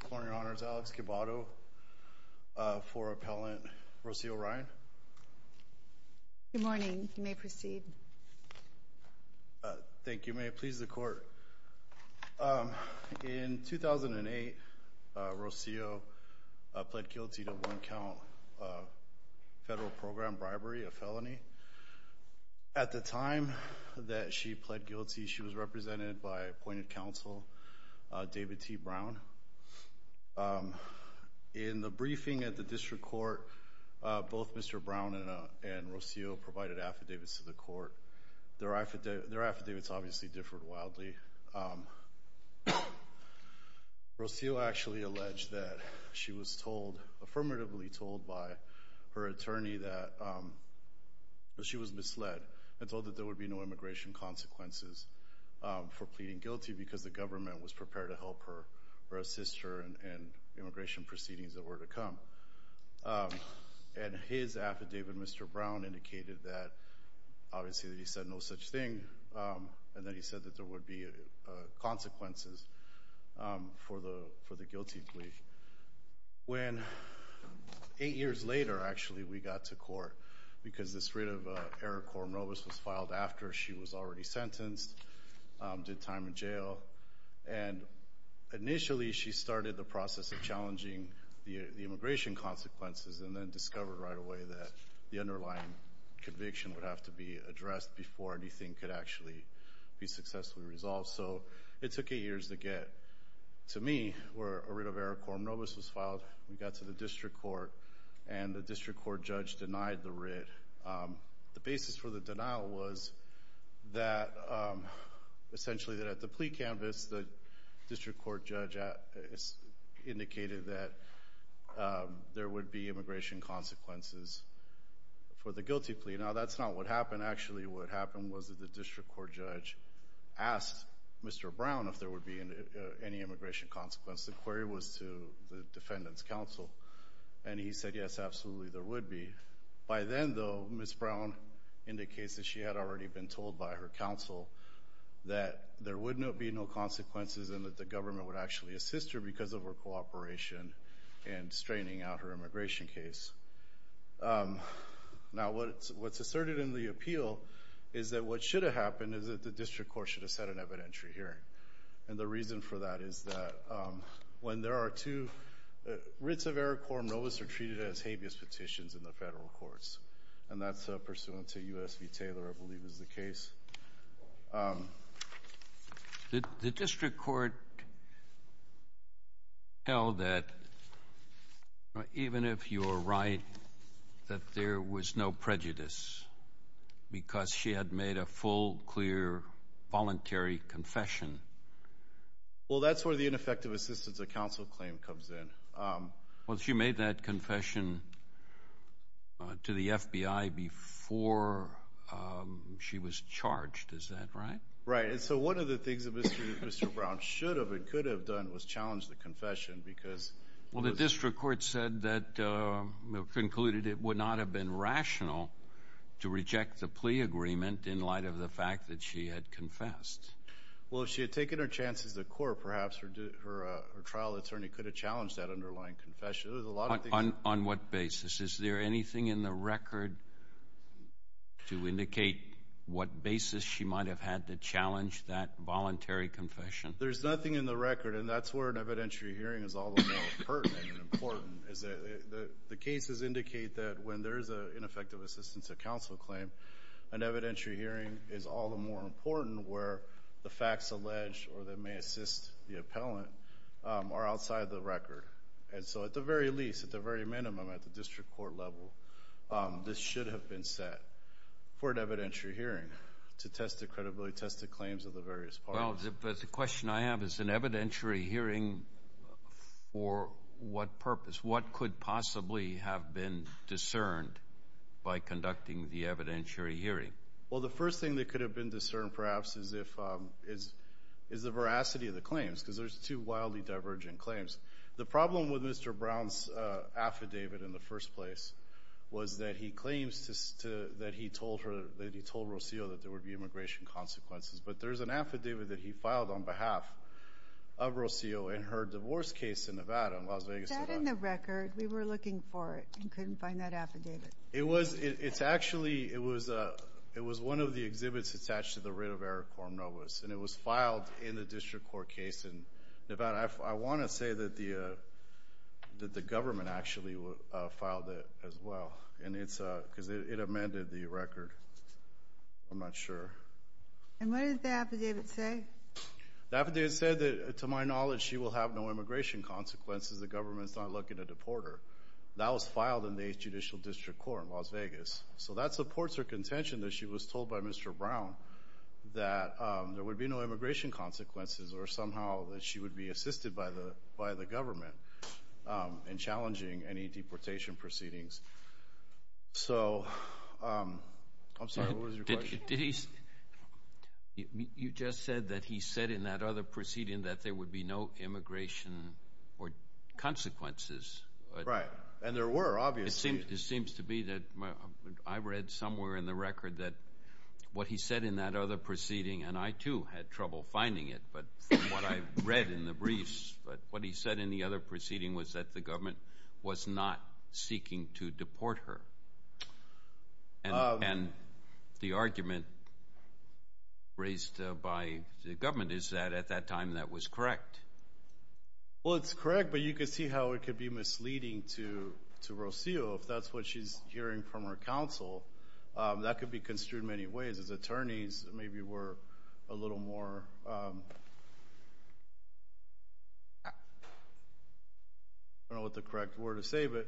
Good morning, Your Honor. It's Alex Cabado for Appellant Rocio Ryan. Good morning. You may proceed. Thank you. May it please the Court. In 2008, Rocio pled guilty to one count federal program bribery, a felony. At the time that she pled guilty, she was In the briefing at the District Court, both Mr. Brown and Rocio provided affidavits to the Court. Their affidavits obviously differed wildly. Rocio actually alleged that she was told, affirmatively told, by her attorney that she was misled and told that there would be no immigration consequences for pleading guilty because the government was prepared to help her or assist her in immigration proceedings that were to come. And his affidavit, Mr. Brown, indicated that obviously that he said no such thing and that he said that there would be consequences for the guilty plea. When eight years later, actually, we got to court, because this writ of error quorum nobis was filed after she was already sentenced, did time in jail, and initially she started the process of challenging the immigration consequences and then discovered right away that the underlying conviction would have to be addressed before anything could actually be successfully resolved. So it took eight years to get to me where a writ of error quorum nobis was filed. We got to the District Court and the District Court judge denied the writ. The basis for the denial was that essentially that at the plea canvas, the District Court judge indicated that there would be immigration consequences for the guilty plea. Now that's not what happened. Actually, what happened was that the District Court judge asked Mr. Brown if there would be any immigration consequence. The query was to defendant's counsel, and he said, yes, absolutely there would be. By then, though, Ms. Brown indicates that she had already been told by her counsel that there would be no consequences and that the government would actually assist her because of her cooperation and straining out her immigration case. Now what's asserted in the appeal is that what should have happened is that the District Court should have set an evidentiary hearing, and the reason for that is that when there are two writs of error quorum nobis are treated as habeas petitions in the federal courts, and that's pursuant to U.S. v. Taylor, I believe is the case. The District Court held that even if you're right that there was no prejudice because she had made a full, clear, voluntary confession. Well, that's where the ineffective assistance of counsel claim comes in. Well, she made that confession to the FBI before she was charged. Is that right? Right, and so one of the things that Mr. Brown should have and could have done was challenge the confession because... Well, the District Court said that, concluded it would not have been rational to reject the plea agreement in light of the fact that she had confessed. Well, if she had taken her chances at court, perhaps her trial attorney could have challenged that underlying confession. On what basis? Is there anything in the record to indicate what basis she might have had to challenge that voluntary confession? There's nothing in the record, and that's where an evidentiary hearing is all the more pertinent and important, is that the cases indicate that when there is an ineffective assistance of counsel claim, an evidentiary hearing is all the more important where the facts alleged or that may assist the appellant are outside the record. And so at the very least, at the very minimum, at the District Court level, this should have been set for an evidentiary hearing to test the credibility, test the claims of the various parties. Well, the question I have is an evidentiary hearing for what purpose? What could possibly have been discerned by conducting the evidentiary hearing? Well, the first thing that could have been discerned perhaps is the veracity of the claims because there's two wildly divergent claims. The problem with Mr. Brown's affidavit in the first place was that he claims that he told Rocio that there would be immigration consequences, but there's an affidavit that he filed on behalf of Rocio in her divorce case in Nevada, in Las Vegas, Nevada. Is that in the record? We were looking for it and couldn't find that affidavit. It was, it's actually, it was one of the exhibits attached to the writ of error Quorum Novus, and it was filed in the District Court case in Nevada. I want to say that the that the government actually filed it as well, because it amended the record. I'm not sure. And what did the affidavit say? The affidavit said that, to my knowledge, she will have no immigration consequences. The government's not looking to deport her. That was filed in the Judicial District Court in Las Vegas, so that supports her contention that she was told by Mr. Brown that there would be no immigration consequences or somehow that she would be I'm sorry, what was your question? Did he, you just said that he said in that other proceeding that there would be no immigration or consequences. Right, and there were, obviously. It seems to be that I read somewhere in the record that what he said in that other proceeding, and I too had trouble finding it, but from what I read in the briefs, but what he said in the other proceeding was that the government was not seeking to deport her. And the argument raised by the government is that at that time that was correct. Well, it's correct, but you could see how it could be misleading to to Rocio. If that's what she's hearing from her counsel, that could be construed many ways. His attorneys maybe were a little more I don't know what the correct word to say, but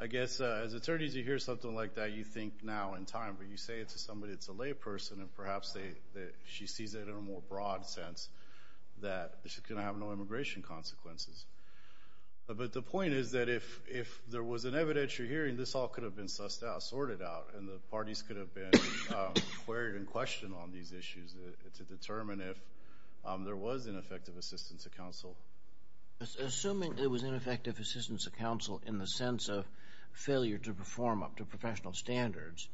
I guess as attorneys, you hear something like that, you think now in time, but you say it to somebody that's a layperson, and perhaps that she sees it in a more broad sense that she's going to have no immigration consequences. But the point is that if there was an evidentiary hearing, this all could have been sussed out, sorted out, and the parties could have been queried and questioned on these issues to determine if there was ineffective assistance of counsel. Assuming there was ineffective assistance of counsel in the sense of failure to perform up to professional standards,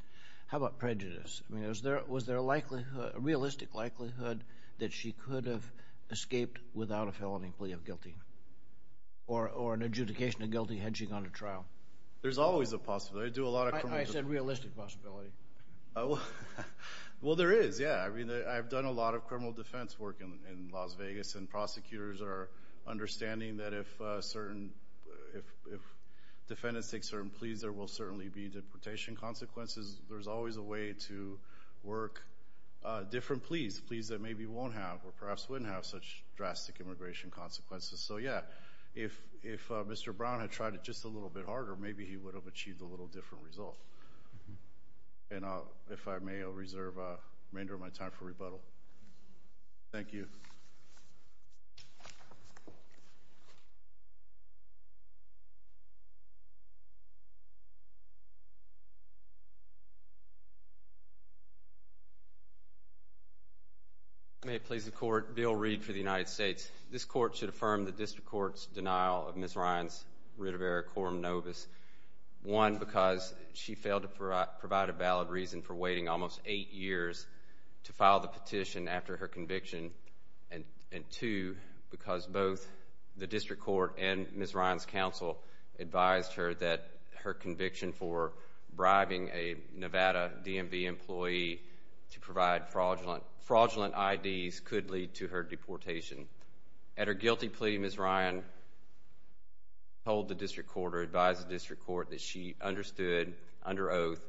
how about prejudice? I mean, was there a realistic likelihood that she could have escaped without a felony plea of guilty? Or an adjudication of guilty had she gone to trial? There's always a possibility. I do a lot of... I said realistic possibility. Oh, well, there is, yeah. I mean, I've done a lot of criminal defense work in Las Vegas, and prosecutors are understanding that if certain, if defendants take certain pleas, there will certainly be deportation consequences. There's always a way to work different pleas, pleas that maybe won't have or perhaps wouldn't have such drastic immigration consequences. So yeah, if Mr. Brown had tried it just a little bit harder, maybe he would have achieved a little different result. And if I may, I'll reserve the remainder of my time for rebuttal. Thank you. May it please the Court, Bill Reed for the United States. This Court should affirm the District Court's denial of Ms. Ryan's writ of error, quorum nobis, one, because she failed to provide a valid reason for waiting almost eight years to file the petition after her conviction, and two, because both the District Court and Ms. Ryan's counsel advised her that her conviction for bribing a Nevada DMV employee to provide fraudulent IDs could lead to her deportation. At her guilty plea, Ms. Ryan told the District Court or advised the District Court that she understood under oath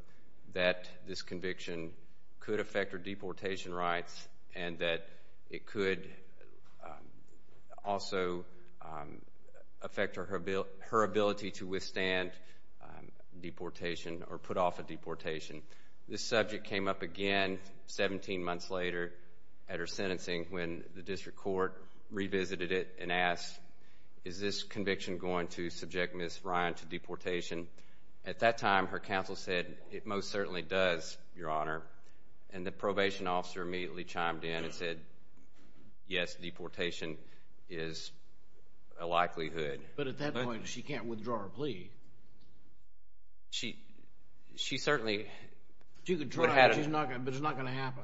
that this conviction could affect her deportation rights and that it could also affect her ability to withstand deportation or put off a deportation. This subject came up again 17 months later at her sentencing when the District Court revisited it and asked, is this conviction going to subject Ms. Ryan to deportation? At that time, her counsel said, it most certainly does, Your Honor. And the probation officer immediately chimed in and said, yes, deportation is a likelihood. But at that point, she can't withdraw her plea. She certainly... She could try, but it's not going to happen.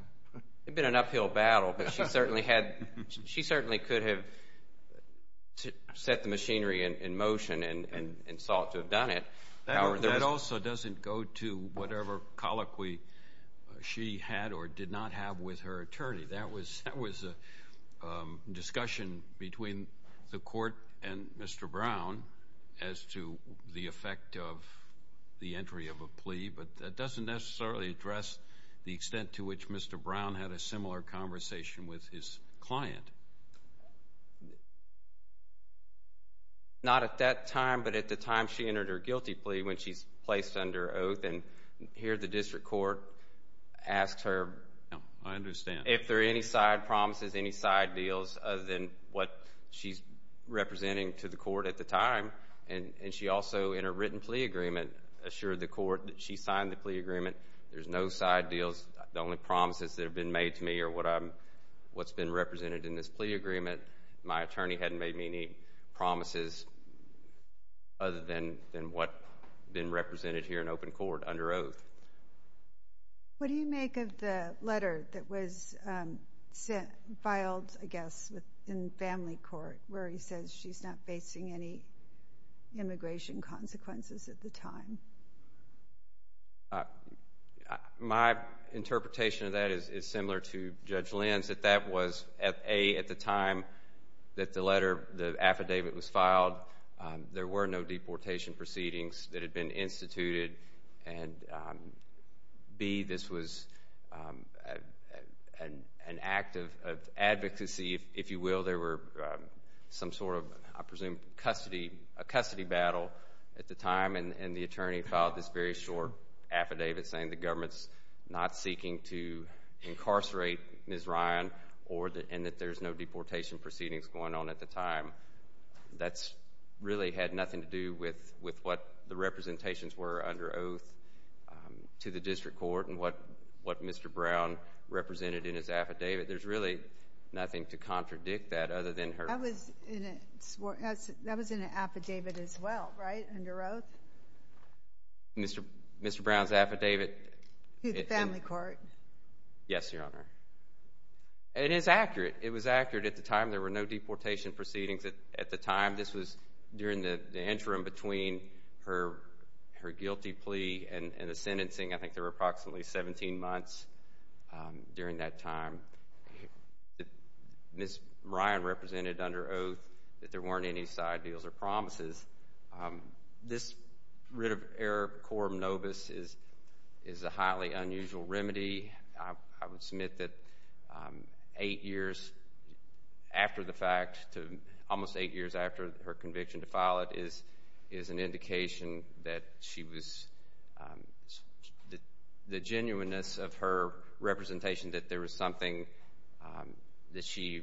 It'd been an uphill battle, but she certainly could have set the machinery in motion and sought to have done it. That also doesn't go to whatever colloquy she had or did not have with her attorney. That was a discussion between the Court and Mr. Brown as to the effect of entry of a plea, but that doesn't necessarily address the extent to which Mr. Brown had a similar conversation with his client. Not at that time, but at the time she entered her guilty plea when she's placed under oath. And here, the District Court asked her... I understand. If there are any side promises, any side deals other than what she's representing to the Court at the time, and she also, in her written plea agreement, assured the Court that she signed the plea agreement. There's no side deals. The only promises that have been made to me are what's been represented in this plea agreement. My attorney hadn't made me any promises other than what's been represented here in open court under oath. What do you make of the letter that was immigration consequences at the time? My interpretation of that is similar to Judge Lin's, that that was, A, at the time that the letter, the affidavit was filed, there were no deportation proceedings that had been instituted, and B, this was an act of advocacy, if you will. There were some sort of, I presume, a custody battle at the time, and the attorney filed this very short affidavit saying the government's not seeking to incarcerate Ms. Ryan, and that there's no deportation proceedings going on at the time. That's really had nothing to do with what the representations were under oath to the district court and what Mr. Brown represented in his affidavit. There's really nothing to contradict that other than her... That was in an affidavit as well, right, under oath? Mr. Brown's affidavit... To the family court. Yes, Your Honor. It is accurate. It was accurate at the time. There were no deportation proceedings at the time. This was during the interim between her guilty plea and the sentencing. I think there were approximately 17 months during that time that Ms. Ryan represented under oath that there weren't any side deals or promises. This writ of error, quorum nobis, is a highly unusual remedy. I would submit that eight years after the fact, almost eight years after her conviction to file it, is an indication that she was... The genuineness of her representation that there was something that she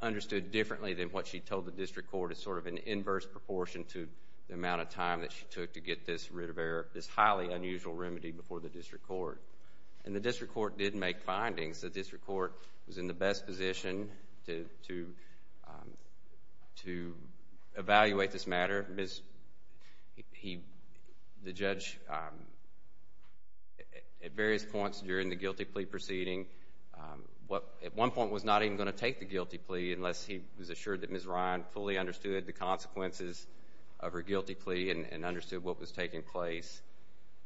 understood differently than what she told the district court is sort of an inverse proportion to the amount of time that she took to get this writ of error, this highly unusual before the district court. And the district court did make findings. The district court was in the best position to evaluate this matter. The judge, at various points during the guilty plea proceeding, at one point was not even going to take the guilty plea unless he was assured that Ms. Ryan fully understood the consequences of her guilty plea and understood what was taking place.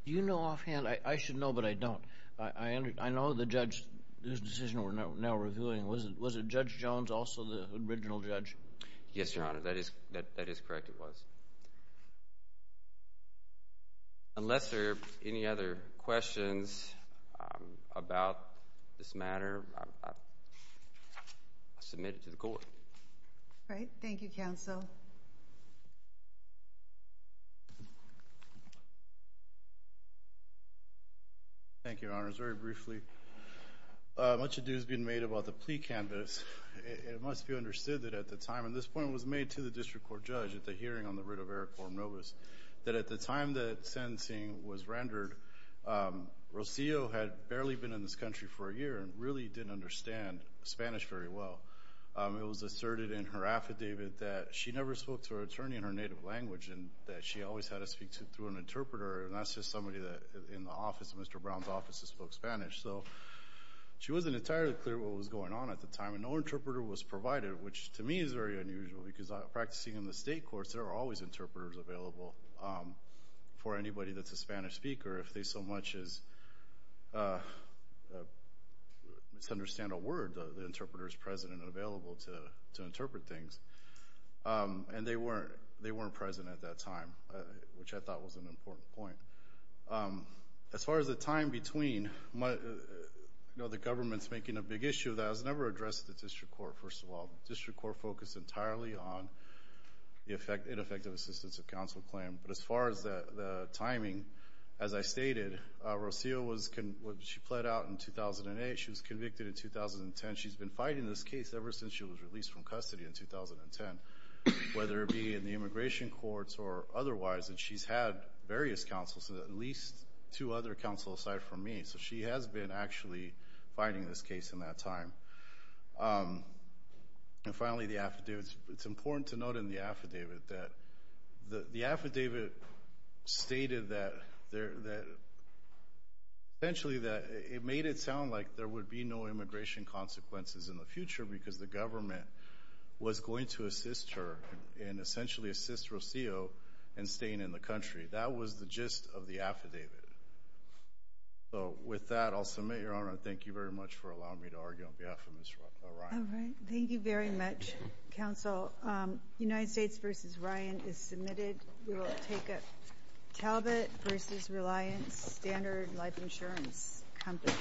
Do you know offhand? I should know, but I don't. I know the judge whose decision we're now reviewing, was it Judge Jones, also the original judge? Yes, Your Honor, that is correct, it was. Unless there are any other questions about this matter, I'll submit it to the court. All right, thank you, counsel. Thank you, Your Honors. Very briefly, much ado has been made about the plea canvass. It must be understood that at the time, and this point was made to the district court judge at the hearing on the writ of error, Corum Novus, that at the time that sentencing was rendered, Rocio had barely been in this country for a year and really didn't understand Spanish very well. It was asserted in her affidavit that she never spoke to her attorney in her native language and that she always had to speak through an interpreter, and that's just somebody in the office, Mr. Brown's office, that spoke Spanish. So she wasn't entirely clear what was going on at the time, and no interpreter was provided, which to me is very unusual because practicing in the state courts, there are always interpreters available for anybody that's a interpreter's president available to interpret things, and they weren't present at that time, which I thought was an important point. As far as the time between, you know, the government's making a big issue that has never addressed the district court, first of all. The district court focused entirely on the ineffective assistance of counsel claim, but as far as the timing, as I stated, Rocio was, she pled out in 2008. She was convicted in 2010. She's been fighting this case ever since she was released from custody in 2010, whether it be in the immigration courts or otherwise, and she's had various counsels, at least two other counsels aside from me, so she has been actually fighting this case in that time. And finally, the affidavits. It's that essentially that it made it sound like there would be no immigration consequences in the future because the government was going to assist her and essentially assist Rocio in staying in the country. That was the gist of the affidavit. So with that, I'll submit, Your Honor. Thank you very much for allowing me to argue on behalf of Ms. Ryan. All right. Thank you very much, counsel. United States v. Ryan is submitted. We will take a Talbot v. Reliance Standard Life Insurance Company.